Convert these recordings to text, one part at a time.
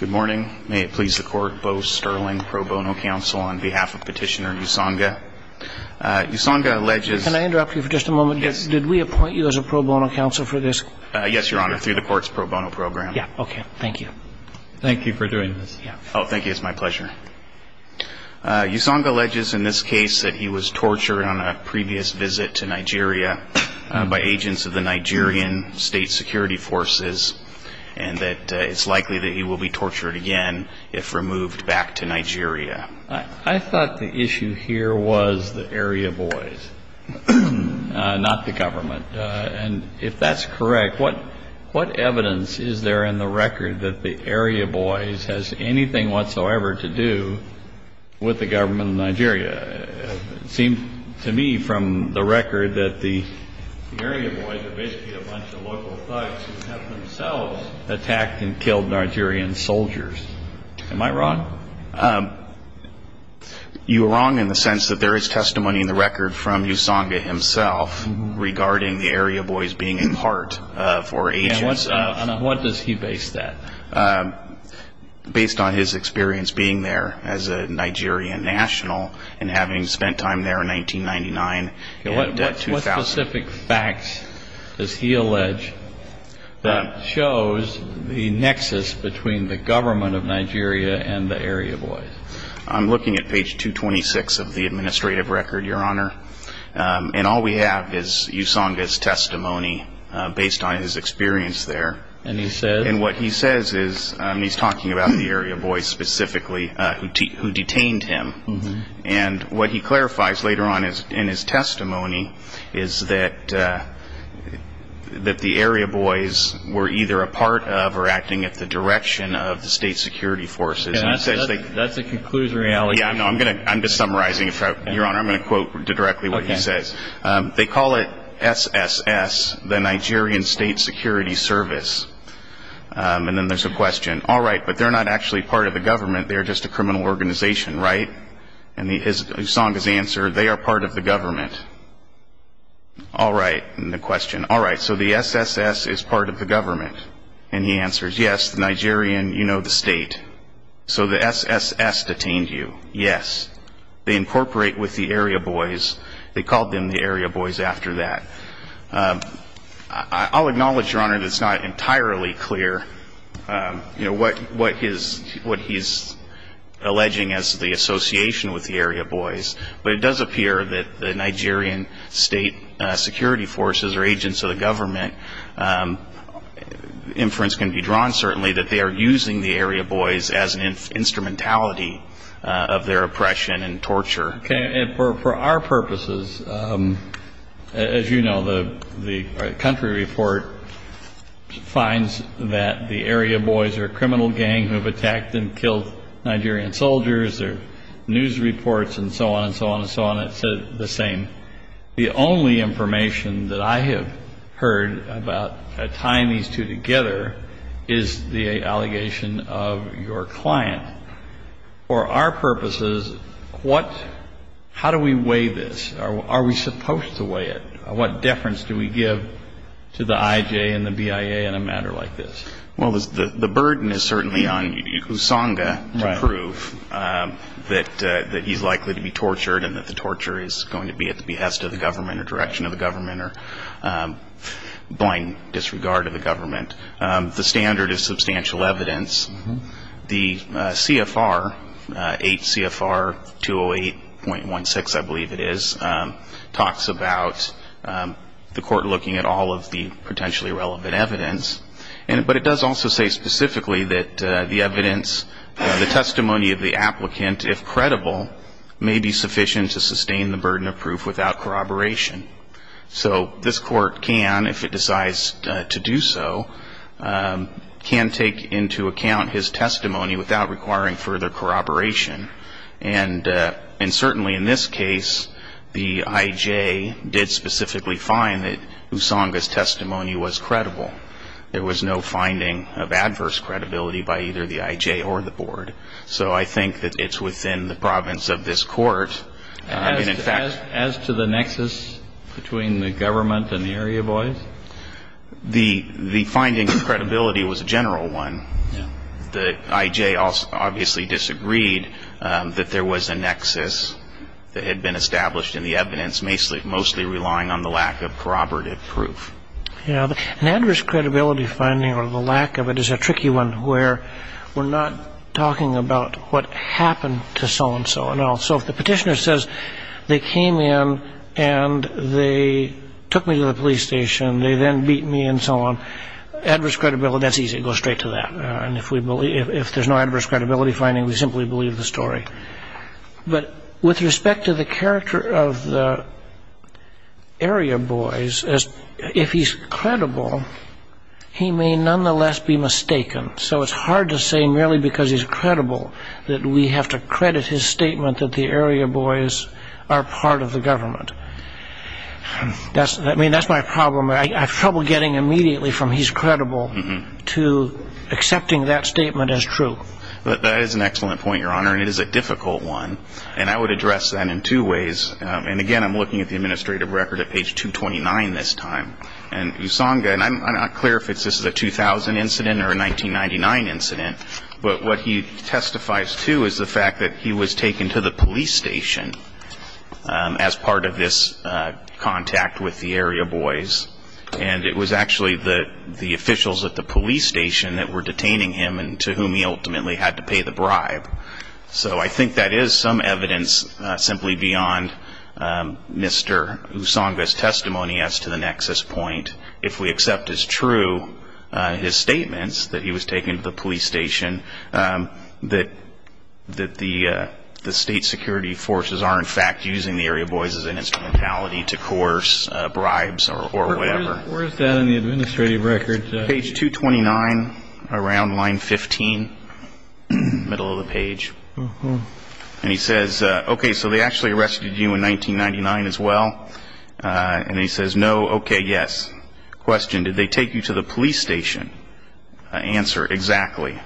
Good morning. May it please the court, Bo Sterling, pro bono counsel on behalf of Petitioner Usanga. Usanga alleges... Can I interrupt you for just a moment? Yes. Did we appoint you as a pro bono counsel for this? Yes, your honor, through the court's pro bono program. Yeah, okay. Thank you. Thank you for doing this. Oh, thank you. It's my pleasure. Usanga alleges in this case that he was tortured on a previous visit to Nigeria by agents of Nigerian state security forces and that it's likely that he will be tortured again if removed back to Nigeria. I thought the issue here was the area boys, not the government. And if that's correct, what evidence is there in the record that the area boys has anything whatsoever to do with the government of Nigeria? It seemed to me from the record that the area boys are basically a bunch of local thugs who have themselves attacked and killed Nigerian soldiers. Am I wrong? You are wrong in the sense that there is testimony in the record from Usanga himself regarding the area boys being in part for agents... And on what does he base that? Based on his experience being there as a Nigerian national and having spent time there in 1999 and 2000. What specific facts does he allege that shows the nexus between the government of Nigeria and the area boys? I'm looking at page 226 of the administrative record, your honor. And all we have is Usanga's testimony based on his experience there. And he says... And what he says is, he's talking about the area boys specifically who detained him. And what he clarifies later on in his testimony is that the area boys were either a part of or acting at the direction of the state security forces. That's a conclusive reality. I'm just summarizing. I'm going to quote directly what he says. They call it SSS, the Nigerian State Security Service. And then there's a question, all right, but they're not actually part of the government. They're just a criminal organization, right? And Usanga's answer, they are part of the government. All right. And the question, all right, so the SSS is part of the government. And he answers, yes, Nigerian, you know the state. So the SSS detained you. Yes. They incorporate with the area boys. They called them the area boys after that. I'll acknowledge, your honor, that it's not entirely clear, you know, what he's alleging as the association with the area boys. But it does appear that the Nigerian state security forces are agents of the government. Inference can be drawn certainly that they are using the area boys as an instrumentality of their oppression and torture. Okay. And for our purposes, as you know, the country report finds that the area boys are a criminal gang who have attacked and killed Nigerian soldiers. There are news reports and so on and so on and so on. It says the same. The only information that I have heard about tying these two together is the allegation of your client. For our purposes, how do we weigh this? Are we supposed to weigh it? What deference do we give to the IJ and the BIA in a matter like this? Well, the burden is certainly on Usanga to prove that he's likely to be tortured and that the torture is going to be at the behest of the government or direction of the government or blind disregard of the government. The standard is substantial evidence. The CFR, 8 CFR 208.16, I believe it is, talks about the court looking at all of the potentially relevant evidence. But it does also say specifically that the evidence, the testimony of the applicant, if credible, may be sufficient to sustain the burden of proof without corroboration. So this court can, if it decides to do so, can take into account his testimony without requiring further corroboration. And certainly in this case, the IJ did specifically find that Usanga's testimony was credible. There was no finding of adverse credibility by either the IJ or the board. So I think that it's within the province of this court. As to the nexus between the government and the area boys? The finding of credibility was a general one. The IJ obviously disagreed that there was a nexus that had been established in the evidence, mostly relying on the lack of corroborative proof. Yeah. An adverse credibility finding or the lack of it is a tricky one where we're not talking about what happened to so-and-so. So if the petitioner says they came in and they took me to the police station, they then beat me and so on, adverse credibility, that's easy. It goes straight to that. If there's no adverse credibility finding, we simply believe the story. But with respect to the character of the area boys, if he's credible, he may nonetheless be mistaken. So it's hard to say merely because he's credible that we have to credit his statement that the area boys are part of the government. I mean, that's my problem. I have trouble getting immediately from he's credible to accepting that statement as true. But that is an excellent point, Your Honor, and it is a difficult one. And I would address that in two ways. And again, I'm looking at the administrative record at page 229 this time. And Usanga, and I'm not clear if this is a 2000 incident or a 1999 incident, but what he testifies to is the fact that he was taken to the police station as part of this contact with the area boys. And it was actually the officials at the police station that were incidentally had to pay the bribe. So I think that is some evidence simply beyond Mr. Usanga's testimony as to the nexus point. If we accept as true his statements that he was taken to the police station, that the state security forces are in fact using the area boys as an instrumentality to coerce bribes or whatever. Where is that in the administrative record? Page 229, around line 15, middle of the page. And he says, okay, so they actually arrested you in 1999 as well? And he says, no, okay, yes. Question, did they take you to the police station? Answer, exactly.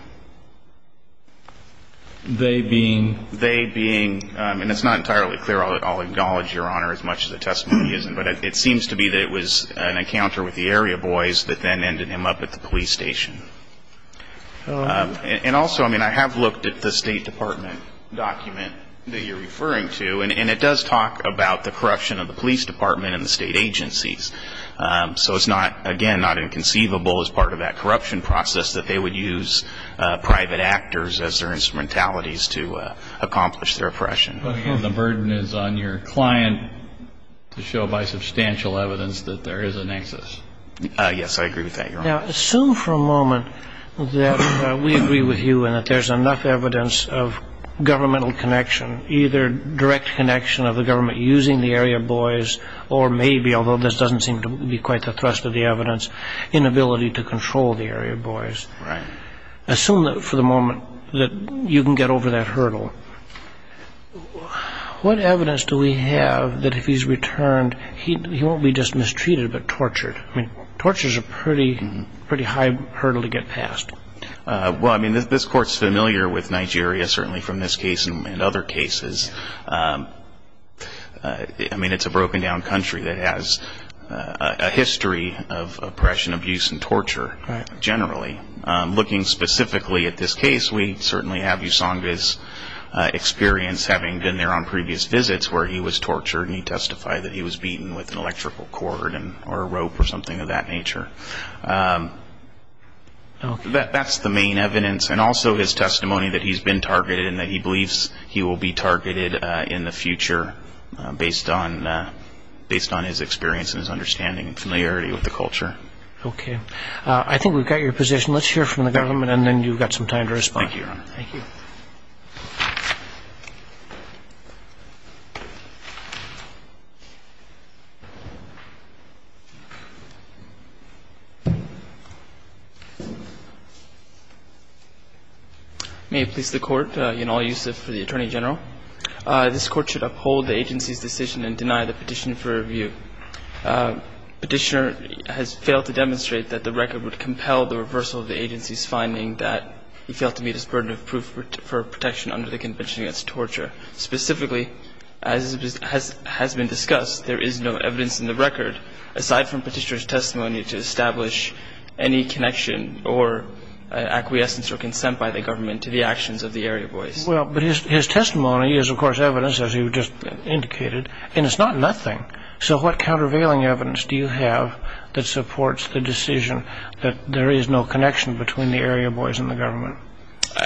They being? They being, and it's not entirely clear. I'll acknowledge, Your Honor, as much as a testimony isn't, but it seems to be that it was an encounter with the area boys that then ended him up at the police station. And also, I mean, I have looked at the State Department document that you're referring to, and it does talk about the corruption of the police department and the state agencies. So it's not, again, not inconceivable as part of that corruption process that they would use private actors as their instrumentalities to accomplish their oppression. The burden is on your client to show by substantial evidence that there is a nexus. Yes, I agree with that, Your Honor. Now, assume for a moment that we agree with you and that there's enough evidence of governmental connection, either direct connection of the government using the area boys or maybe, although this doesn't seem to be quite the thrust of the evidence, inability to control the area boys. Right. Assume for the moment that you can get over that hurdle. What evidence do we have that if he's returned, he won't be just mistreated, but tortured? I mean, torture is a pretty high hurdle to get past. Well, I mean, this Court's familiar with Nigeria, certainly from this case and other cases. I mean, it's a broken-down country that has a history of oppression, abuse, and torture generally. Looking specifically at this case, we certainly have Usanga's experience having been there on previous visits where he was tortured and he testified that he was beaten with an electrical cord or a rope or something of that nature. That's the main evidence. And also his testimony that he's been targeted and that he believes he will be targeted in the future based on his experience and his understanding and familiarity with the culture. Okay. I think we've got your position. Let's hear from the government and then you've got some time to respond. Thank you, Your Honor. Thank you. May it please the Court, Yanal Yusuf for the Attorney General. This Court should uphold the agency's decision and deny the Petitioner for review. Petitioner has failed to demonstrate that the record would compel the reversal of the agency's finding that he failed to meet his burden of proof for protection under the Convention Against Torture. Specifically, as has been discussed, there is no evidence in the record, aside from Petitioner's testimony, to establish any connection or acquiescence or consent by the government to the actions of the area boys. Well, but his testimony is, of course, evidence, as you just indicated, and it's not nothing. So what countervailing evidence do you have that supports the decision that there is no connection between the area boys and the government?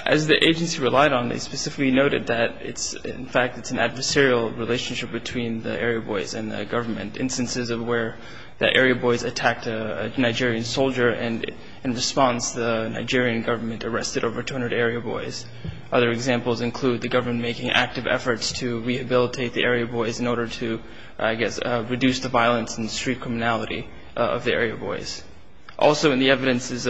As the agency relied on, they specifically noted that it's, in fact, it's an adversarial relationship between the area boys and the government. Instances of where the area boys attacked a Nigerian soldier, and in response, the Nigerian government arrested over 200 area boys. Other examples include the government making active efforts to rehabilitate the area boys in order to, I guess, reduce the violence and street criminality of the area boys. Also in the evidences,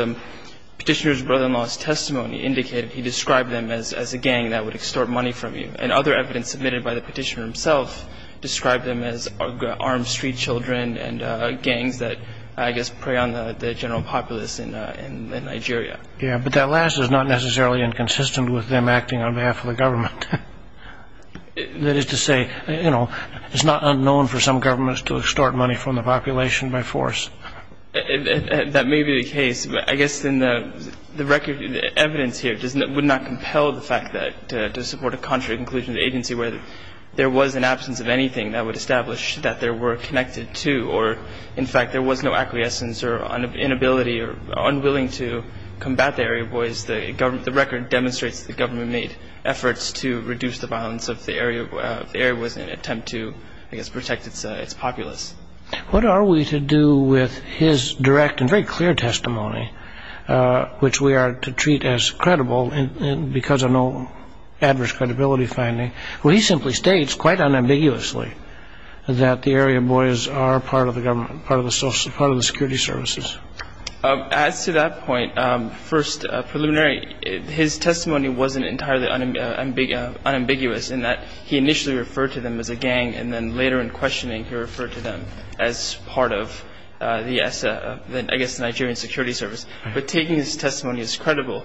Petitioner's brother-in-law's testimony indicated he described them as a gang that would extort money from you. And other evidence submitted by the Petitioner himself described them as armed street children and gangs that, I guess, prey on the general populace in Nigeria. Yeah, but that last is not necessarily inconsistent with them acting on behalf of the government. That is to say, you know, it's not unknown for some governments to extort money from the population by force. That may be the case. I guess in the record, the evidence here would not compel the fact that to support a contrary conclusion to the agency where there was an absence of anything that would establish that there were connected to or, in fact, there was no acquiescence or inability or unwilling to combat the area boys, the record demonstrates the government made efforts to reduce the violence of the area boys in an attempt to, I guess, protect its populace. What are we to do with his direct and very clear testimony, which we are to treat as credible because of no adverse credibility finding, where he simply states quite unambiguously that the area boys are part of the government, part of the security services? As to that point, first preliminary, his testimony wasn't entirely unambiguous in that he initially referred to them as a gang and then later in questioning he referred to them as part of the, I guess, Nigerian security service. But taking his testimony as credible,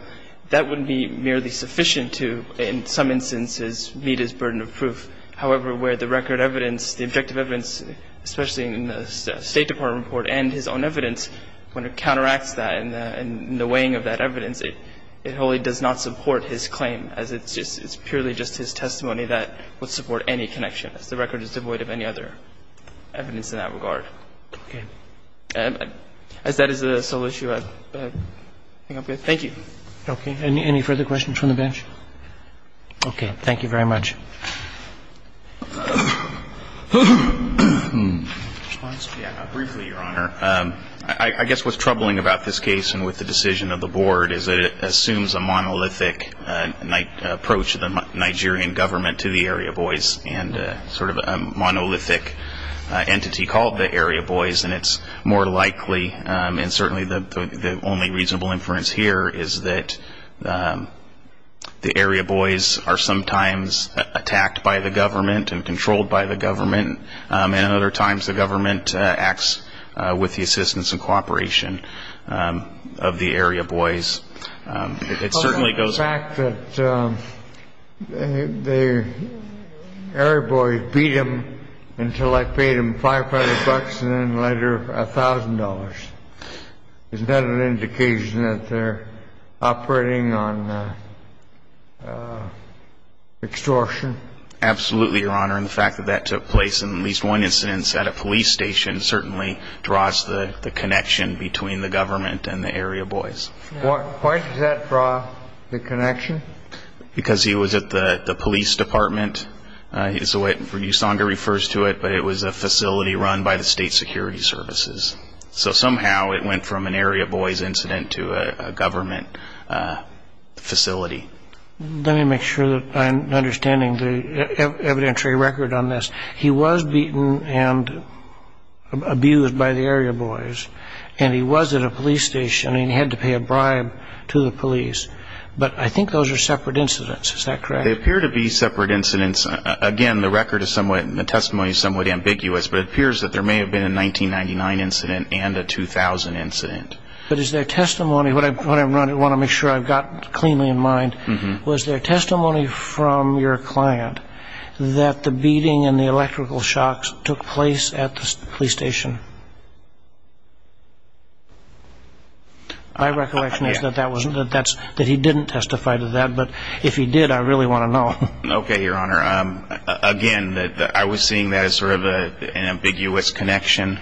that would be merely sufficient to, in some instances, meet his burden of proof. However, where the record evidence, the objective evidence, especially in the State Department report and his own evidence, when it counteracts that and the weighing of that evidence, it wholly does not support his claim, as it's purely just his testimony that would support any connection. The record is devoid of any other evidence in that regard. As that is the sole issue, I think I'm good. Thank you. Okay. Any further questions from the bench? Okay. Thank you very much. Yeah. Briefly, Your Honor. I guess what's troubling about this case and with the decision of the board is that it assumes a monolithic approach to the Nigerian government to the area boys and sort of a monolithic entity called the area boys. And it's more likely, and certainly the only reasonable inference here is that the area boys are sometimes attacked by the government and controlled by the government. And other times the government acts with the assistance and cooperation of the area boys. It certainly goes back to the area boys beat him until I paid him $500 and then later $1,000. Isn't that an indication that they're operating on extortion? Absolutely, Your Honor. And the fact that that took place in at least one incident at a police station certainly draws the connection between the government and the area boys. Why does that draw the connection? Because he was at the police department. It's the way Usanga refers to it, but it was a facility run by the state security services. So somehow it went from an area boys incident to a government facility. Let me make sure that I'm understanding the evidentiary record on this. He was beaten and abused by the area boys and he was at a police station and he had to pay a bribe to the police. But I think those are separate incidents. Is that correct? They appear to be separate incidents. Again, the record is somewhat, the testimony is somewhat ambiguous, but it appears that there may have been a 1999 incident and a 2000 incident. But is there testimony, what I want to make sure I've got cleanly in mind, was there testimony from your client that the beating and the electrical shocks took place at the police station? My recollection is that he didn't testify to that, but if he did, I really want to know. Okay, Your Honor. Again, I was seeing that as sort of an ambiguous connection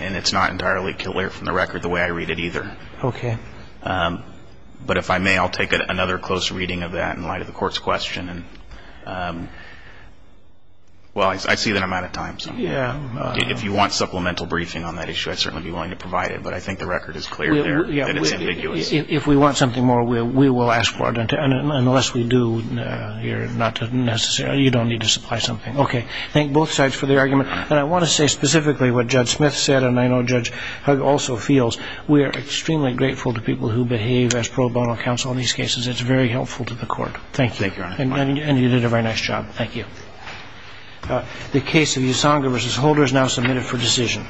and it's not entirely clear from the record the way I read it either. Okay. But if I may, I'll take another close reading of that in light of the court's question. Well, I see that I'm out of time. Yeah. If you want supplemental briefing on that issue, I'd certainly be willing to provide it, but I think the record is clear there that it's ambiguous. Well, if we want something more, we will ask for it, and unless we do, you're not necessarily, you don't need to supply something. Okay. Thank both sides for the argument, and I want to say specifically what Judge Smith said and I know Judge Hugg also feels. We are extremely grateful to people who behave as pro bono counsel in these cases. It's very helpful to the court. Thank you. Thank you, Your Honor. And you did a very nice job. Thank you. The case of Usanga v. Holder is now submitted for decision.